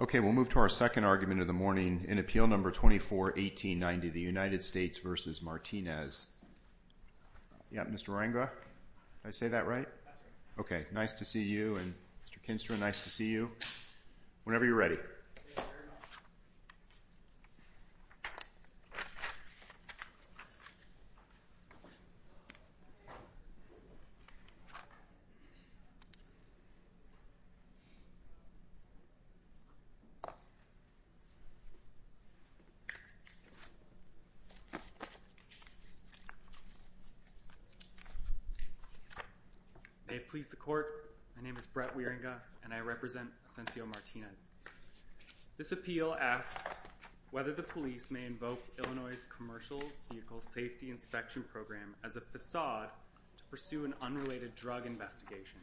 Okay, we'll move to our second argument of the morning in Appeal No. 24-1890, the United States v. Martinez. Yeah, Mr. Ranga, did I say that right? Okay, nice to see you and Mr. Kinstra, nice to see you. Whenever you're ready. May it please the Court, my name is Brett Wieringa and I represent Ausencio Martinez. This appeal asks whether the police may invoke Illinois' Commercial Vehicle Safety Inspection Program as a facade to pursue an unrelated drug investigation.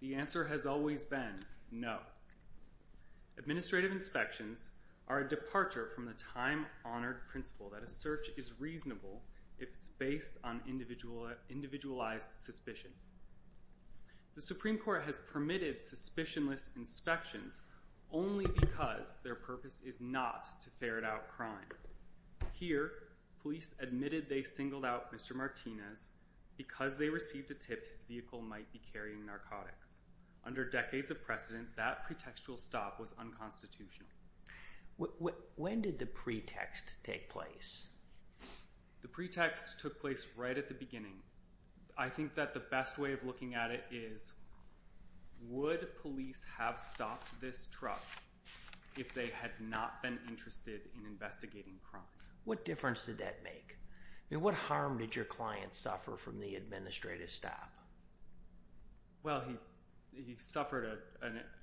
The answer has always been no. Administrative inspections are a departure from the time-honored principle that a search is reasonable if it's based on individualized suspicion. The Supreme Court has permitted suspicionless inspections only because their purpose is not to ferret out crime. Here, police admitted they singled out Mr. Martinez because they received a tip his vehicle might be carrying narcotics. Under decades of precedent, that pretextual stop was unconstitutional. When did the pretext take place? The pretext took place right at the beginning. I think that the best way of looking at it is, would police have stopped this truck if they had not been interested in investigating crime? What difference did that make? I mean, what harm did your client suffer from the administrative stop? Well, he suffered,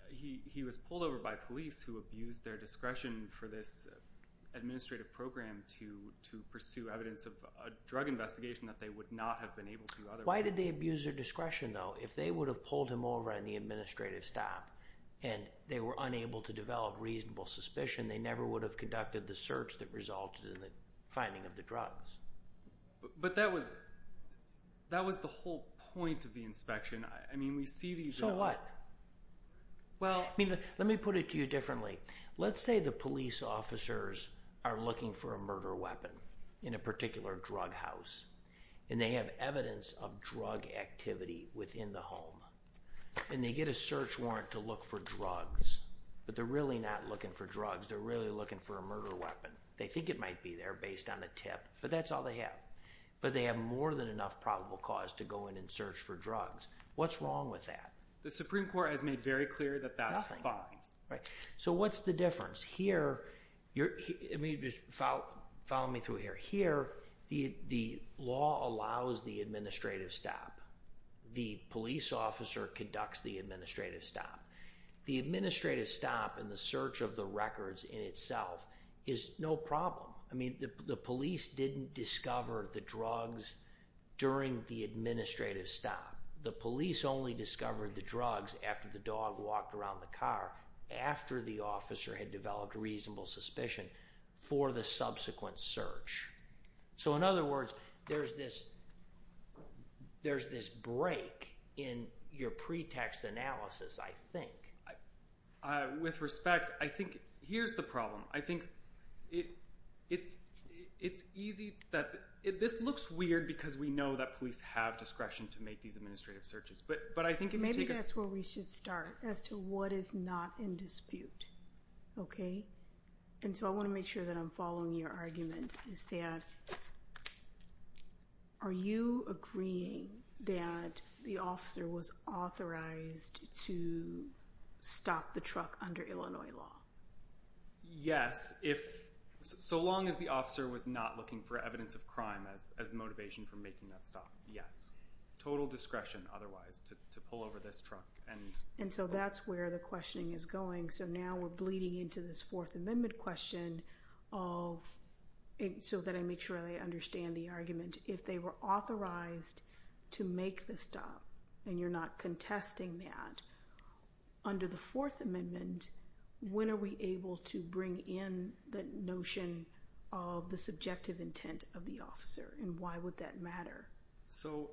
he was pulled over by police who abused their discretion for this administrative program to pursue evidence of a drug investigation that they would not have been able to otherwise. Why did they abuse their discretion, though? If they would have pulled him over on the administrative stop, and they were unable to develop reasonable suspicion, they never would have conducted the search that resulted in the finding of the drugs. But that was the whole point of the inspection. I mean, we see these... So what? Well... Let me put it to you differently. Let's say the police officers are looking for a murder weapon in a particular drug house, and they have evidence of drug activity within the home, and they get a search warrant to look for drugs, but they're really not looking for drugs, they're really looking for a murder weapon. They think it might be there based on a tip, but that's all they have. But they have more than enough probable cause to go in and search for drugs. What's wrong with that? The Supreme Court has made very clear that that's fine. Right. So what's the difference? Here... Follow me through here. Here, the law allows the administrative stop. The police officer conducts the administrative stop. The administrative stop and the search of the records in itself is no problem. I mean, the police didn't discover the drugs during the administrative stop. The police only discovered the drugs after the dog walked around the car, after the officer had developed reasonable suspicion for the subsequent search. So in other words, there's this break in your pretext analysis, I think. With respect, I think... Here's the problem. I think it's easy... This looks weird because we know that police have discretion to make these administrative searches, but I think if you take a... Maybe that's where we should start, as to what is not in dispute. Okay? And so I want to make sure that I'm following your argument, is that are you agreeing that the officer was authorized to stop the truck under Illinois law? Yes, if... So long as the officer was not looking for evidence of crime as motivation for making that stop, yes. Total discretion, otherwise, to pull over this truck and... And so that's where the questioning is going. So now we're bleeding into this Fourth Amendment question of... So that I make sure that I understand the argument. If they were authorized to make the stop, and you're not contesting that, under the Fourth Amendment, when are we able to bring in the notion of the subjective intent of the officer, and why would that matter? So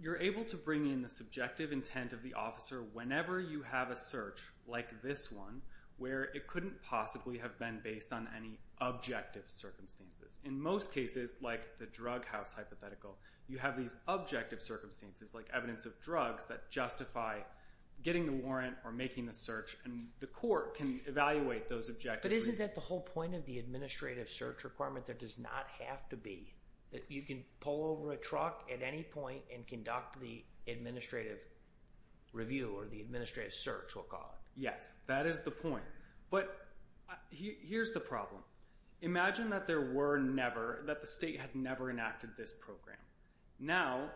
you're able to bring in the subjective intent of the officer whenever you have a search, like this one, where it couldn't possibly have been based on any objective circumstances. In most cases, like the drug house hypothetical, you have these objective circumstances, like evidence of drugs, that justify getting the warrant or making the search, and the court can evaluate those objectives. But isn't that the whole point of the administrative search requirement? There does not have to be. You can pull over a truck at any point and conduct the administrative review, or the administrative search, we'll call it. Yes, that is the point. But here's the problem. Imagine that there were never, that the state had never enacted this program. Now,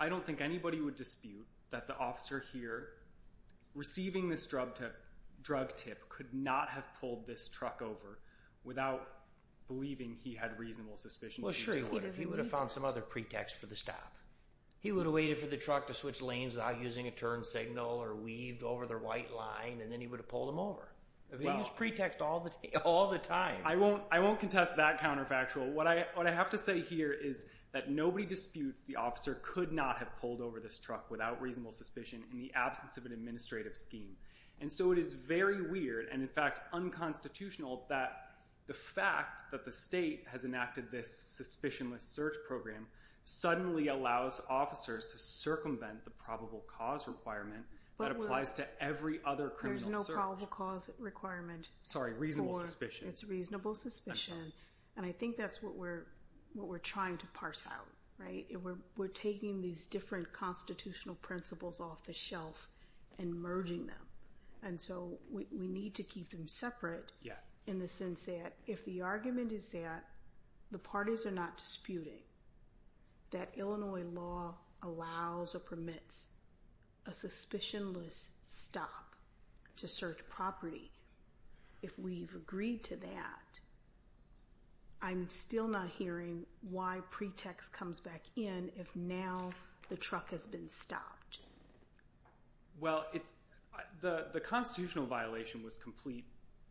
I don't think anybody would dispute that the officer here, receiving this drug tip, could not have pulled this truck over without believing he had reasonable suspicion. Well, sure he would. He would have found some other pretext for the stop. He would have waited for the truck to switch lanes without using a turn signal, or weaved over the right line, and then he would have pulled him over. He used pretext all the time. I won't contest that counterfactual. What I have to say here is that nobody disputes the officer could not have pulled over this truck without reasonable suspicion in the absence of an administrative scheme. And so it is very weird, and in fact unconstitutional, that the fact that the state has enacted this suspicionless search program suddenly allows officers to circumvent the probable cause requirement that applies to every other criminal search. There's no probable cause requirement. Sorry, reasonable suspicion. It's reasonable suspicion. And I think that's what we're trying to parse out. We're taking these different constitutional principles off the shelf and merging them. And so we need to keep them separate in the sense that if the argument is that the parties are not disputing that Illinois law allows or permits a suspicionless stop to search property, if so, the truck has been stopped. Well, the constitutional violation was complete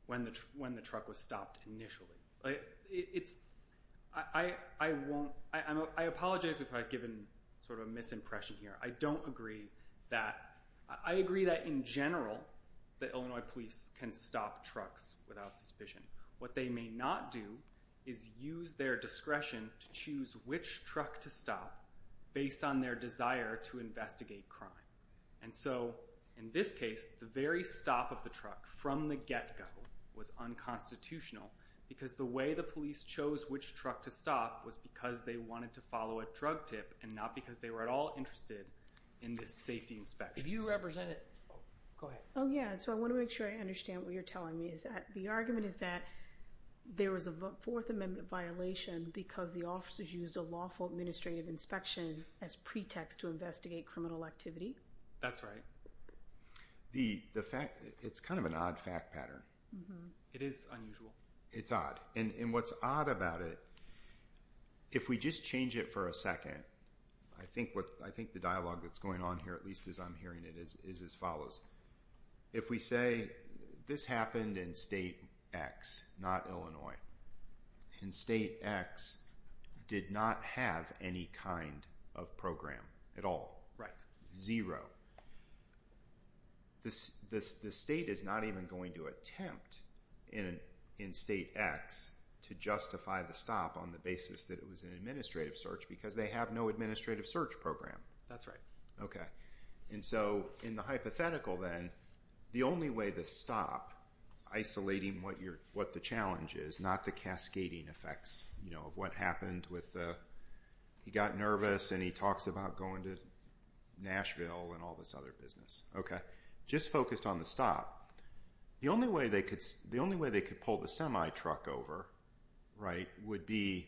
when the truck was stopped initially. I apologize if I've given sort of a misimpression here. I don't agree that. I agree that in general the Illinois police can stop trucks without suspicion. What they may not do is use their discretion to choose which truck to stop based on their desire to investigate crime. And so in this case, the very stop of the truck from the get-go was unconstitutional because the way the police chose which truck to stop was because they wanted to follow a drug tip and not because they were at all interested in the safety inspections. If you represent it, go ahead. Oh yeah, so I want to make sure I understand what you're telling me is that the argument is that there was a Fourth Amendment violation because the officers used a lawful administrative inspection as pretext to investigate criminal activity? That's right. It's kind of an odd fact pattern. It is unusual. It's odd. And what's odd about it, if we just change it for a second, I think the dialogue that's going on here, at least as I'm hearing it, is as follows. If we say this happened in State X, not Illinois, and State X did not have any kind of program at all, zero, the state is not even going to attempt in State X to justify the stop on the basis that it was an administrative search because they have no administrative search program. That's the challenge is, not the cascading effects of what happened. He got nervous and he talks about going to Nashville and all this other business. Just focused on the stop, the only way they could pull the semi-truck over would be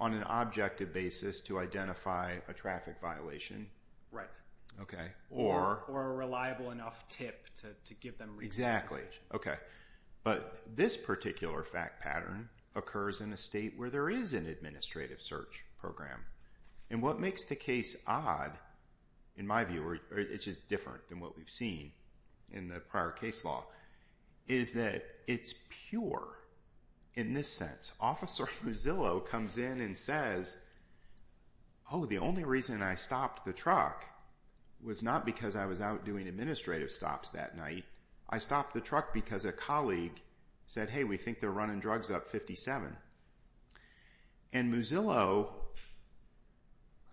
on an objective basis to identify a traffic violation. Right. Or a reliable enough tip to give them reason to investigate. Exactly. Okay. But this particular fact pattern occurs in a state where there is an administrative search program. And what makes the case odd, in my view, or it's just different than what we've seen in the prior case law, is that it's pure in this sense. Officer Muzzillo comes in and says, oh, the only reason I stopped the truck was not because I was out doing administrative stops that night. I stopped the truck because a colleague said, hey, we think they're running drugs up 57. And Muzzillo,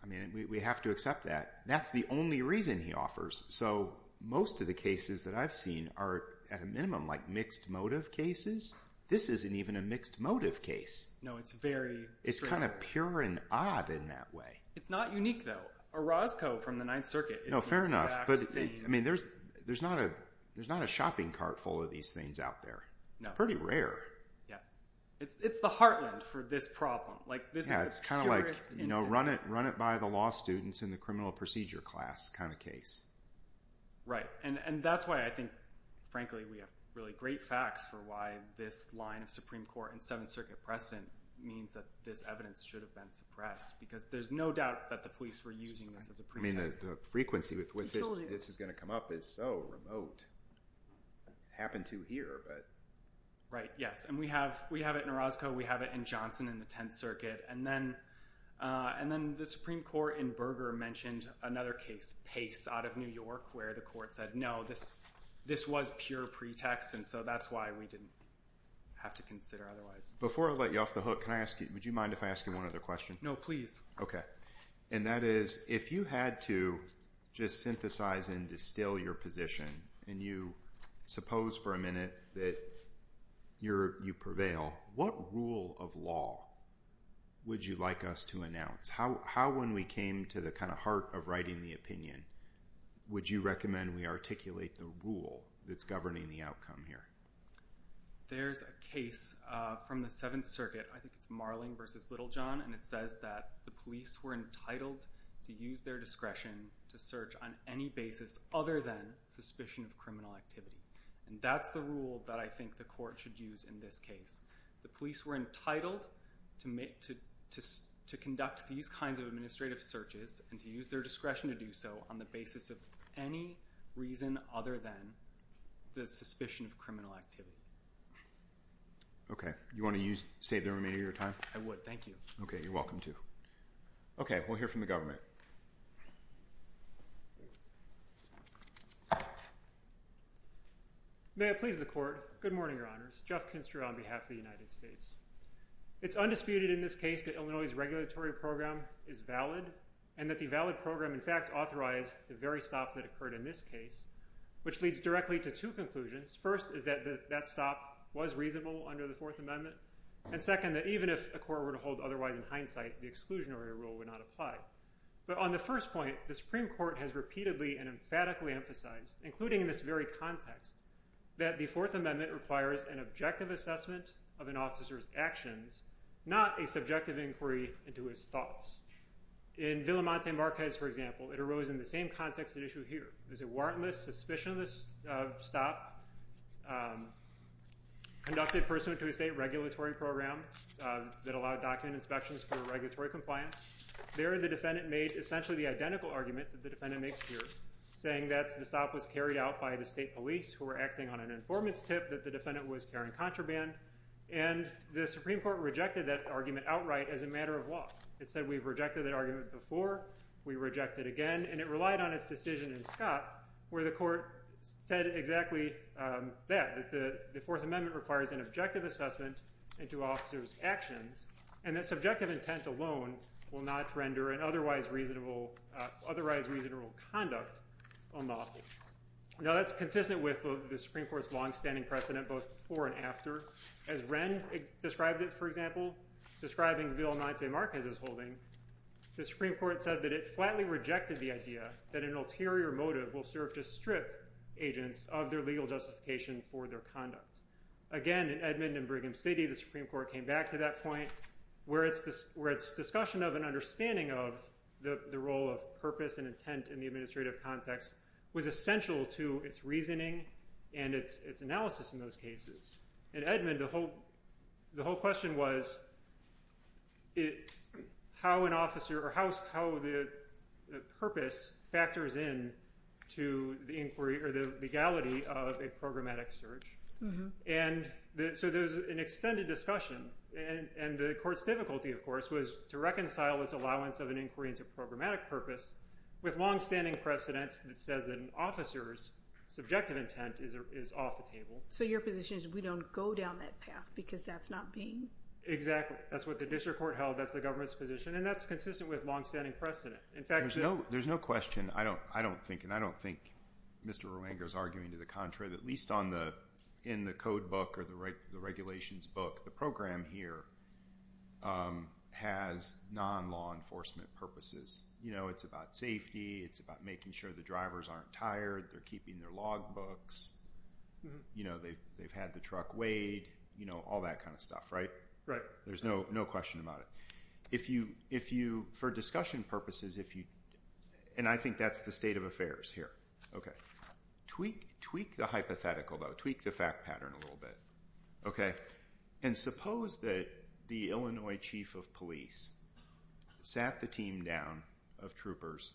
I mean, we have to accept that. That's the only reason he offers. So most of the cases that I've seen are, at a minimum, like mixed motive case. No, it's very. It's kind of pure and odd in that way. It's not unique, though. A Roscoe from the Ninth Circuit is the exact same. No, fair enough. But, I mean, there's not a shopping cart full of these things out there. No. Pretty rare. Yes. It's the heartland for this problem. Yeah, it's kind of like, you know, run it by the law students in the criminal procedure class kind of case. Right. And that's why I think, frankly, we have really great facts for why this line of Supreme Court and Seventh Circuit precedent means that this evidence should have been suppressed. Because there's no doubt that the police were using this as a pretext. I mean, the frequency with which this is going to come up is so remote. Happened to here, but. Right. Yes. And we have it in Roscoe. We have it in Johnson in the Tenth Circuit. And then the Supreme Court in Berger mentioned another case, Pace, out of New York, where the court said, no, this was pure pretext, and so that's why we didn't have to consider otherwise. Before I let you off the hook, can I ask you, would you mind if I ask you one other question? No, please. Okay. And that is, if you had to just synthesize and distill your position, and you suppose for a minute that you prevail, what rule of law would you like us to announce? How, when we came to the kind of heart of writing the opinion, would you recommend we articulate the rule that's governing the outcome here? There's a case from the Seventh Circuit, I think it's Marling versus Littlejohn, and it says that the police were entitled to use their discretion to search on any basis other than suspicion of criminal activity. And that's the rule that I think the court should use in this case. The police were entitled to conduct these kinds of administrative searches and to use their discretion to do so on the basis of any reason other than the suspicion of criminal activity. Okay. You want to save the remainder of your time? I would, thank you. Okay, you're welcome to. Okay, we'll hear from the government. May it please the court. Good morning, Your Honors. Jeff Kinster on behalf of the United States. It's undisputed in this case that Illinois's regulatory program is valid, and that the valid program in fact authorized the very stop that occurred in this case, which leads directly to two conclusions. First is that that stop was reasonable under the Fourth Amendment. And second, that even if a court were to hold otherwise in hindsight, the exclusionary rule would not apply. But on the first point, the Supreme Court has repeatedly and emphatically emphasized, including in this very context, that the Fourth Amendment requires an objective assessment of an officer's actions, not a subjective inquiry into his thoughts. In Villamante-Marquez, for example, it arose in the same context at issue here. It was a warrantless, suspicionless stop conducted pursuant to a state regulatory program that allowed document inspections for regulatory compliance. There, the defendant made essentially the identical argument that the defendant makes here, saying that the stop was carried out by the state police, who were acting on an informant's tip, that the defendant was carrying contraband. And the Supreme Court rejected that argument outright as a matter of law. It said, we've rejected that argument before. We reject it again. And it relied on its decision in Scott, where the court said exactly that, that the Fourth Amendment requires an objective assessment into officers' actions, and that subjective intent alone will not render an otherwise reasonable conduct unlawful. Now, that's consistent with the Supreme Court's longstanding precedent both before and after. As Wren described it, for example, describing Villamante-Marquez's holding, the Supreme Court said that it flatly rejected the idea that an ulterior motive will serve to strip agents of their legal justification for their conduct. Again, in Edmond and Brigham City, the Supreme Court came back to that point, where its discussion of and understanding of the role of purpose and intent in the administrative context was essential to its reasoning and its analysis in those cases. In Edmond, the whole question was how an officer or how the purpose factors in to the inquiry or the legality of a programmatic search. And so there's an extended discussion. And the court's difficulty, of course, was to reconcile its allowance of an inquiry into programmatic purpose with longstanding precedents that says that an officer's subjective intent is off the table. So your position is we don't go down that path because that's not being... Exactly. That's what the district court held. That's the government's position. And that's consistent with longstanding precedent. In fact... There's no question. I don't think, and I don't think Mr. Ruango's arguing to the contrary that at least in the code book or the regulations book, the program here has non-law enforcement purposes. It's about safety. It's about making sure the drivers aren't tired. They're keeping their log books. They've had the truck weighed, all that kind of stuff, right? Right. There's no question about it. For discussion purposes, and I think that's the state of hypothetical, though, tweak the fact pattern a little bit, okay? And suppose that the Illinois chief of police sat the team down of troopers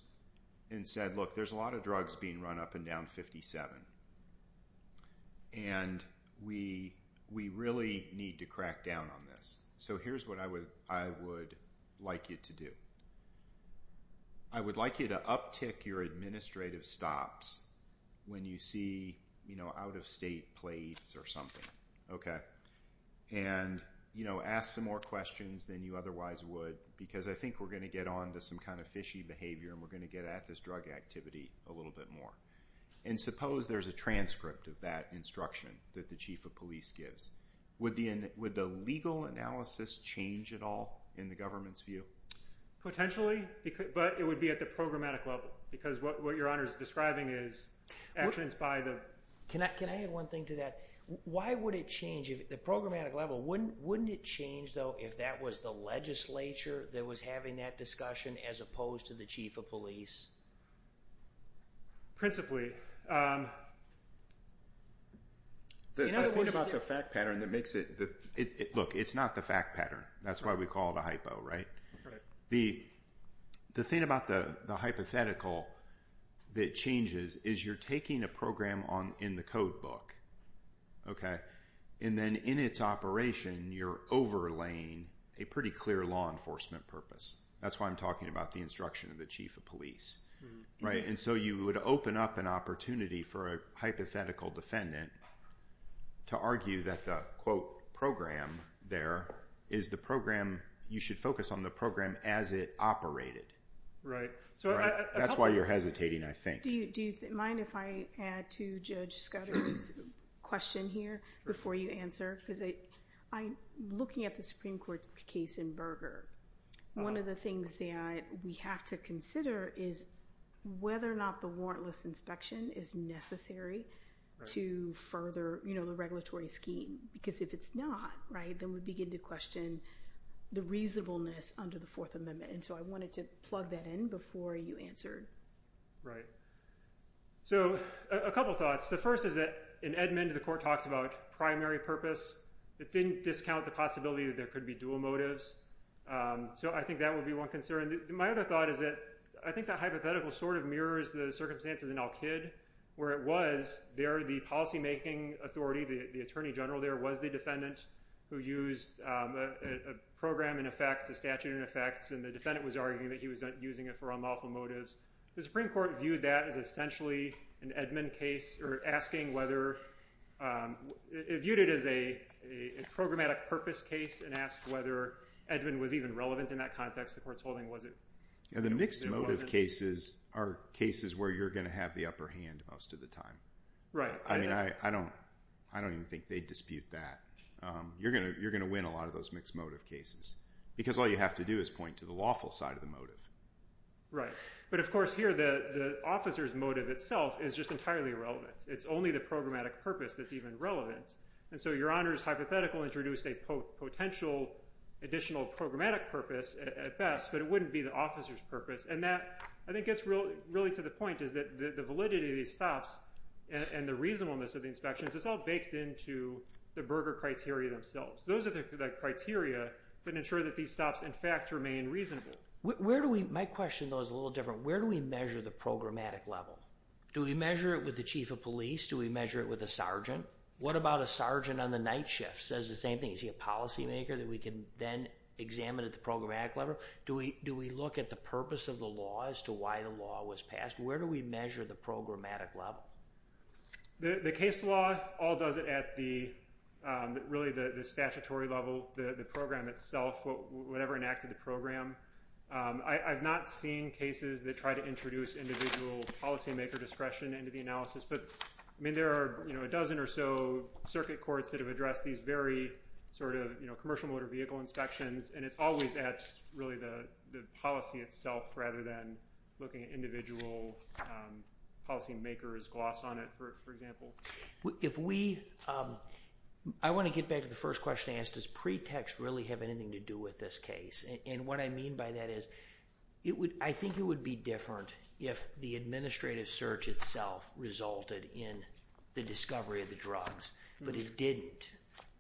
and said, look, there's a lot of drugs being run up and down 57. And we really need to crack down on this. So here's what I would like you to do. I would like you to uptick your administrative stops when you see out-of-state plates or something, okay? And ask some more questions than you otherwise would because I think we're going to get on to some kind of fishy behavior and we're going to get at this drug activity a little bit more. And suppose there's a transcript of that instruction that the chief of police gives. Would the legal analysis change at all in the government's Potentially, but it would be at the programmatic level because what your honor is describing is actions by the... Can I add one thing to that? Why would it change at the programmatic level? Wouldn't it change, though, if that was the legislature that was having that discussion as opposed to the chief of police? Principally. The thing about the fact pattern that makes it... Look, it's not the fact pattern. That's why we call it a hypo, right? The thing about the hypothetical that changes is you're taking a program in the code book, okay? And then in its operation, you're overlaying a pretty clear law enforcement purpose. That's why I'm talking about the instruction of the chief of police, right? And so you would open up an opportunity for a hypothetical defendant to argue that the, quote, program there is the program... You should focus on the program as it operated. That's why you're hesitating, I think. Do you mind if I add to Judge Scudery's question here before you answer? Because I'm looking at the Supreme Court case in Berger. One of the things that we have to consider is whether or not the warrantless inspection is necessary to further the regulatory scheme. Because if it's not, right, then we begin to question the reasonableness under the Fourth Amendment. And so I wanted to plug that in before you answered. Right. So a couple thoughts. The first is that in Edmund, the court talked about primary purpose. It didn't discount the possibility that there could be dual motives. So I think that would be one concern. My other thought is that I think that hypothetical sort of mirrors the circumstances in Al-Kid where it was there the policymaking authority, the attorney general there was the defendant who used a program in effect, a statute in effect, and the defendant was arguing that he was using it for unlawful motives. The Supreme Court is a programmatic purpose case and asked whether Edmund was even relevant in that context. The court's holding was it? The mixed motive cases are cases where you're going to have the upper hand most of the time. Right. I don't even think they dispute that. You're going to win a lot of those mixed motive cases because all you have to do is point to the lawful side of the motive. Right. But of course here the officer's motive itself is just entirely irrelevant. It's only the programmatic purpose that's even relevant. And so Your Honor's hypothetical introduced a potential additional programmatic purpose at best, but it wouldn't be the officer's purpose. And that I think gets really to the point is that the validity of these stops and the reasonableness of the inspections is all baked into the Berger criteria themselves. Those are the criteria that ensure that these stops in fact remain reasonable. My question though is a little different. Where do we measure the programmatic level? Do we measure it with the chief of police? Do we measure it with a sergeant? What about a sergeant on the night shift? Is he a policymaker that we can then examine at the programmatic level? Do we look at the purpose of the law as to why the law was passed? Where do we measure the programmatic level? The case law all does it at the statutory level, the program itself, whatever enacted the program. I've not seen cases that try to introduce individual policymaker discretion into the analysis, but I mean there are a dozen or so circuit courts that have addressed these very sort of commercial motor vehicle inspections and it's always at really the policy itself rather than looking at individual policy makers' gloss on it, for example. I want to get back to the first question I asked. Does pretext really have anything to do with this case? And what I mean by that is I think it would be different if the administrative search itself resulted in the discovery of the drugs, but it didn't.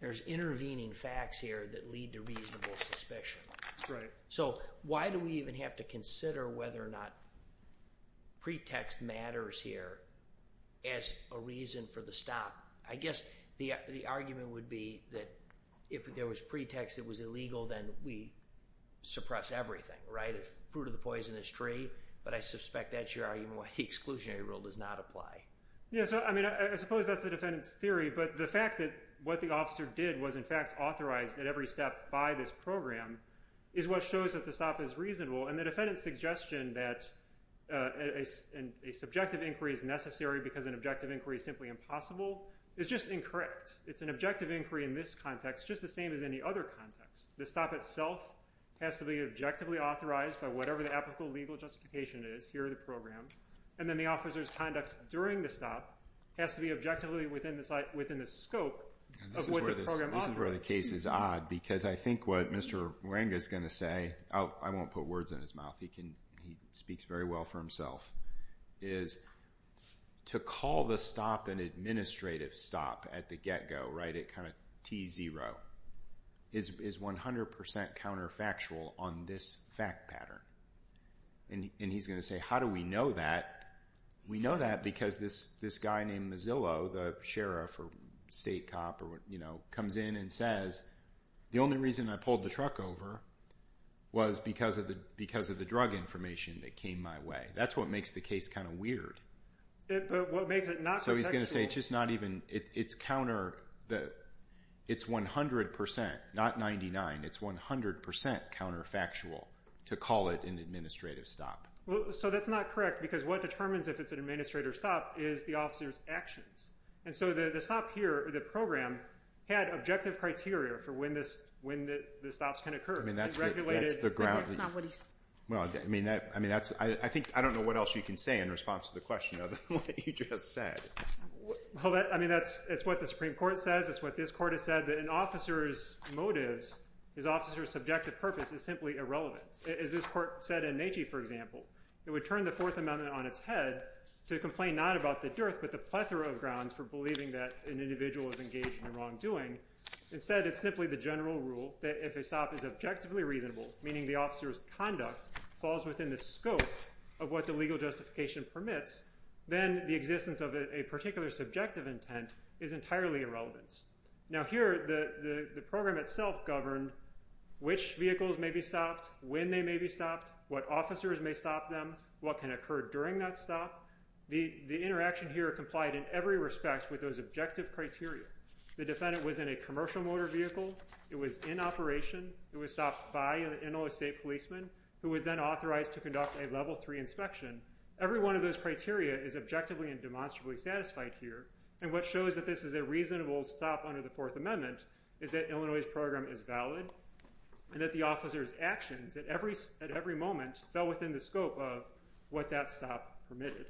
There's intervening facts here that lead to reasonable suspicion. So why do we even have to consider whether or not pretext matters here as a reason for the stop? I guess the argument would be that if there was pretext, it was illegal, then we suppress everything, right? Fruit of the poisonous tree, but I suspect that's your argument why the exclusionary rule does not apply. Yeah, so I mean I suppose that's the defendant's theory, but the fact that what the officer did was in fact authorized at every step by this program is what shows that the stop is reasonable and the defendant's suggestion that a subjective inquiry is necessary because an objective inquiry is simply impossible is just incorrect. It's an objective inquiry in this context, just the same as any other context. The stop itself has to be objectively authorized by whatever the applicable legal justification is here in the program, and then the officer's conduct during the stop has to be objectively within the scope of what the program offers. This is where the case is odd because I think what Mr. Moringa is going to say, I won't put words in his mouth, he speaks very well for himself, is to call the stop an administrative stop at the get-go, right, at kind of T0, is 100% counterfactual on this fact pattern. And he's going to say, how do we know that? We know that because this guy named Mozilla, the sheriff or state cop, comes in and says, the only reason I pulled the truck over was because of the drug information that came my way. That's what makes the case kind of But what makes it not contextual? So he's going to say it's 100%, not 99%, it's 100% counterfactual to call it an administrative stop. Well, so that's not correct because what determines if it's an administrative stop is the officer's actions. And so the stop here, the program, had objective criteria for when the stops can occur. I mean, that's the ground. But that's not what he said. Well, I mean, I don't know what else you can say in response to the question other than what you just said. Well, I mean, that's what the Supreme Court says. It's what this court has said, that an officer's motives, his officer's subjective purpose, is simply irrelevant. As this court said in Natchez, for example, it would turn the Fourth Amendment on its head to complain not about the dearth but the plethora of grounds for believing that an individual is engaged in the wrongdoing. Instead, it's simply the general rule that if a stop is objectively reasonable, meaning the officer's conduct falls within the scope of what the legal justification permits, then the existence of a particular subjective intent is entirely irrelevant. Now, here, the program itself governed which vehicles may be stopped, when they may be stopped, what officers may stop them, what can occur during that stop. The interaction here complied in every respect with those objective criteria. The defendant was in a commercial motor vehicle. It was in operation. It was stopped by an Illinois state policeman who was then authorized to conduct a Level III inspection. Every one of those criteria is objectively and demonstrably satisfied here, and what shows that this is a reasonable stop under the Fourth Amendment is that Illinois' program is valid and that the officer's actions at every moment fell within the scope of what that stop permitted.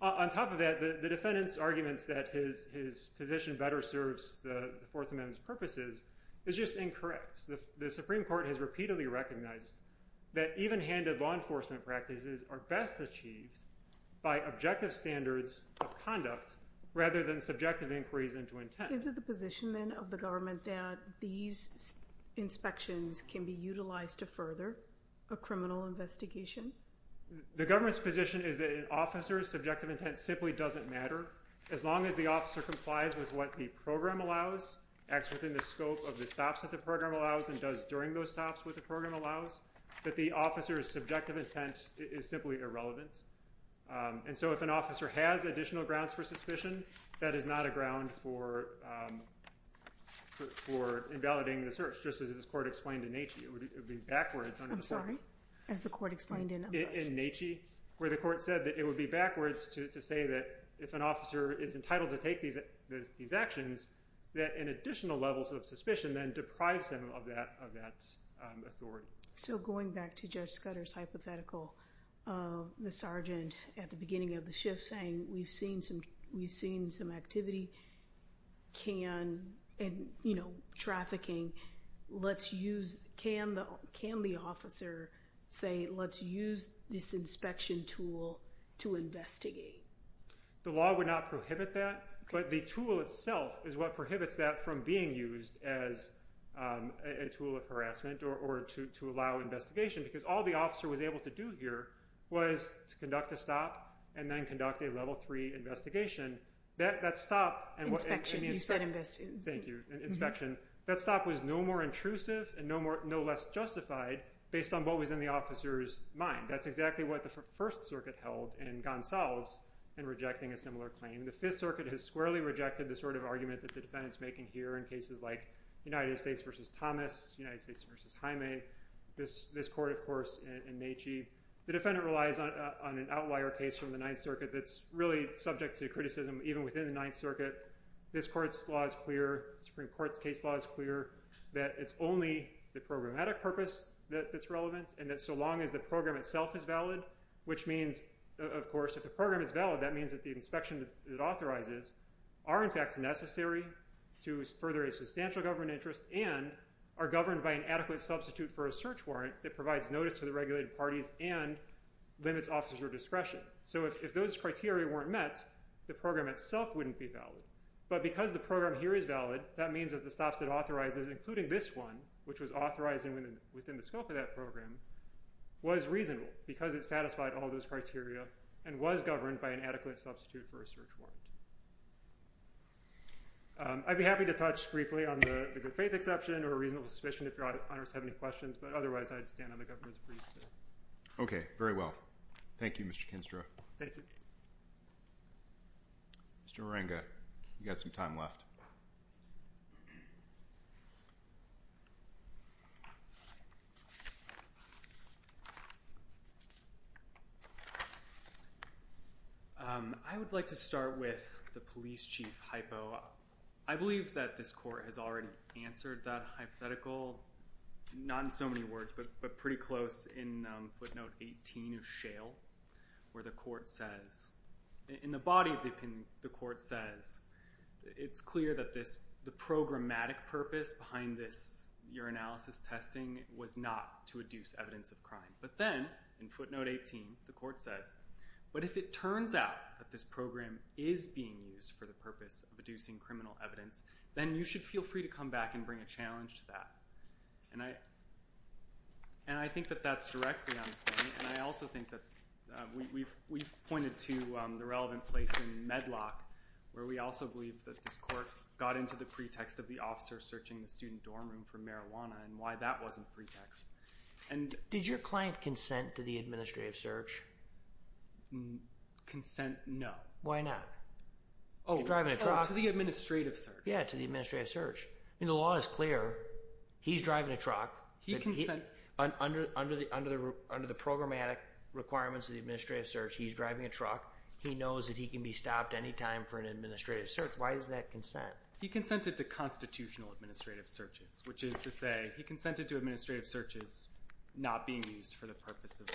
On top of that, the defendant's arguments that his position better serves the Fourth Amendment, the Supreme Court has repeatedly recognized that even-handed law enforcement practices are best achieved by objective standards of conduct rather than subjective inquiries into intent. Is it the position, then, of the government that these inspections can be utilized to further a criminal investigation? The government's position is that an officer's subjective intent simply doesn't matter as long as the officer complies with what the program allows, acts within the scope of the actions during those stops that the program allows, that the officer's subjective intent is simply irrelevant. And so if an officer has additional grounds for suspicion, that is not a ground for invalidating the search, just as the court explained in Natchez. I'm sorry. As the court explained in Natchez, where the court said that it would be backwards to say that if an officer is entitled to take these actions, that an additional level of suspicion, then, deprives him of that authority. So going back to Judge Scudder's hypothetical, the sergeant at the beginning of the shift saying, we've seen some activity and trafficking, can the officer say let's use this inspection tool to investigate? The law would not prohibit that, but the tool itself is what prohibits that from being used as a tool of harassment or to allow investigation, because all the officer was able to do here was to conduct a stop and then conduct a level three investigation. That stop was no more intrusive and no less justified based on what was in the officer's mind. That's exactly what the First Circuit held in Gonsalves in rejecting a similar claim. The Fifth Circuit has squarely rejected the sort of argument that the defendant's making here in cases like United States v. Thomas, United States v. Jaime, this court, of course, in Natchez. The defendant relies on an outlier case from the Ninth Circuit that's really subject to criticism even within the Ninth Circuit. This court's law is clear, the Supreme Court's case law is clear, that it's only the programmatic purpose that's relevant and that so long as the program itself is valid, which means, of course, if the program is valid, that means that the inspections it authorizes are, in fact, further a substantial government interest and are governed by an adequate substitute for a search warrant that provides notice to the regulated parties and limits officer discretion. So if those criteria weren't met, the program itself wouldn't be valid. But because the program here is valid, that means that the stops it authorizes, including this one, which was authorized within the scope of that program, was reasonable because it satisfied all those criteria and was governed by an adequate substitute for a search warrant. I'd be happy to touch briefly on the good-faith exception or a reasonable suspicion if your auditors have any questions, but otherwise I'd stand on the governor's brief. Okay, very well. Thank you, Mr. Kinstra. Thank you. Mr. Moringa, you've got some time left. I would like to start with the police chief hypo. I believe that this court has already answered that hypothetical, not in so many words, but pretty close in footnote 18 of programmatic purpose behind this urinalysis testing was not to adduce evidence of crime. But then, in footnote 18, the court says, but if it turns out that this program is being used for the purpose of adducing criminal evidence, then you should feel free to come back and bring a challenge to that. And I think that that's directly on the point. And I also think that we've pointed to the relevant place in Medlock where we also believe that this court got into the pretext of the officer searching the student dorm room for marijuana and why that wasn't pretext. Did your client consent to the administrative search? Consent, no. Why not? He's driving a truck. To the administrative search. Yeah, to the administrative search. The law is clear. He's driving a truck. He consents. Under the programmatic requirements of the administrative search, he's driving a truck. He knows that he can be stopped anytime for an administrative search. Why is that consent? He consented to constitutional administrative searches, which is to say he consented to administrative searches not being used for the purpose of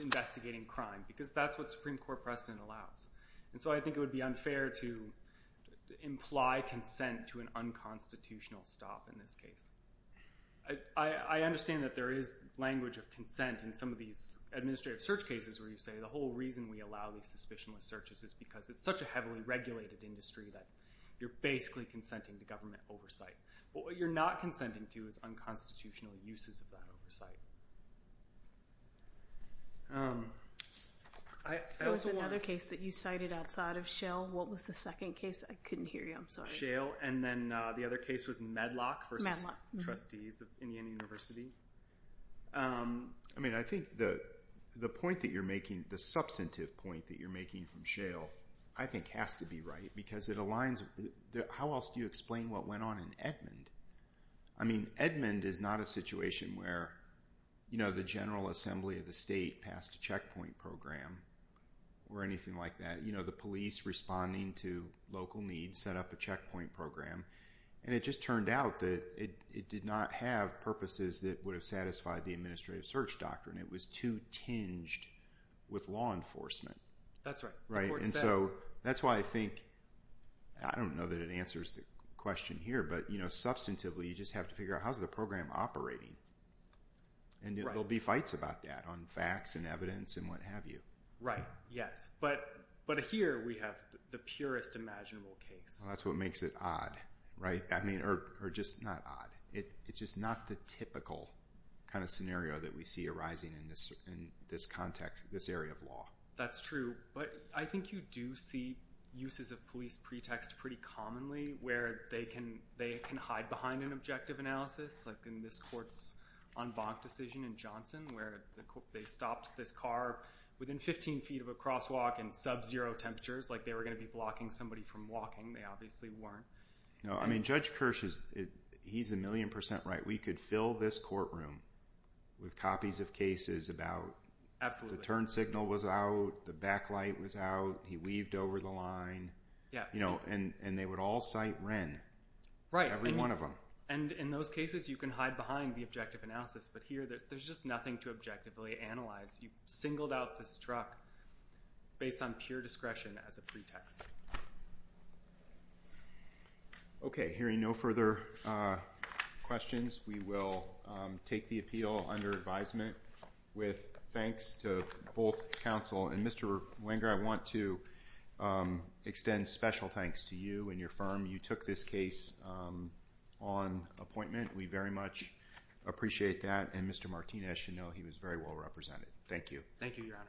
investigating crime, because that's what Supreme Court precedent allows. And so I think it would be unfair to imply consent to an unconstitutional stop in this case. I understand that there is language of consent in some of these administrative search cases where you say the whole reason we allow these suspicionless searches is because it's such a heavily regulated industry that you're basically consenting to government oversight. But what you're not consenting to is unconstitutional uses of that oversight. There was another case that you cited outside of Shale. What was the second case? I couldn't hear you. I'm sorry. Shale. And then the other case was Medlock versus Trustees of Indiana University. I mean, I think the point that you're making, the substantive point that you're making from Shale, I think has to be right, because it aligns. How else do you explain what went on in Edmond? I mean, Edmond is not a situation where the General Assembly of the state passed a checkpoint program or anything like that. You know, the police responding to local needs set up a checkpoint program, and it just turned out that it did not have purposes that would have satisfied the administrative search doctrine. It was too tinged with law enforcement. That's right. And so that's why I think, I don't know that it answers the question here, but substantively you just have to figure out how's the program operating. And there'll be fights about that on facts and evidence and what have you. Right. Yes. But here we have the purest imaginable case. That's what makes it odd, right? I mean, or just not odd. It's just not the typical kind of scenario that we see arising in this context, this area of law. That's true. But I think you do see uses of police pretext pretty commonly where they can hide behind an objective analysis, like in this court's en banc decision in Johnson where they stopped this car within 15 feet of a crosswalk in sub-zero temperatures, like they were going to be blocking somebody from walking. They obviously weren't. No. I mean, Judge Kirsch, he's a million percent right. We could fill this courtroom with copies of cases about the turn signal was out, the backlight was out, he weaved over the line, and they would all cite Wren, every one of them. Right. And in those cases you can hide behind the objective analysis, but here there's just nothing to objectively analyze. You singled out this truck based on pure discretion as a pretext. Okay. Hearing no further questions, we will take the appeal under advisement with thanks to both counsel and Mr. Wenger, I want to extend special thanks to you and your firm. You took this case on appointment. We very much appreciate that. And Mr. Martinez, you know he was very well represented. Thank you. Thank you, Your Honor.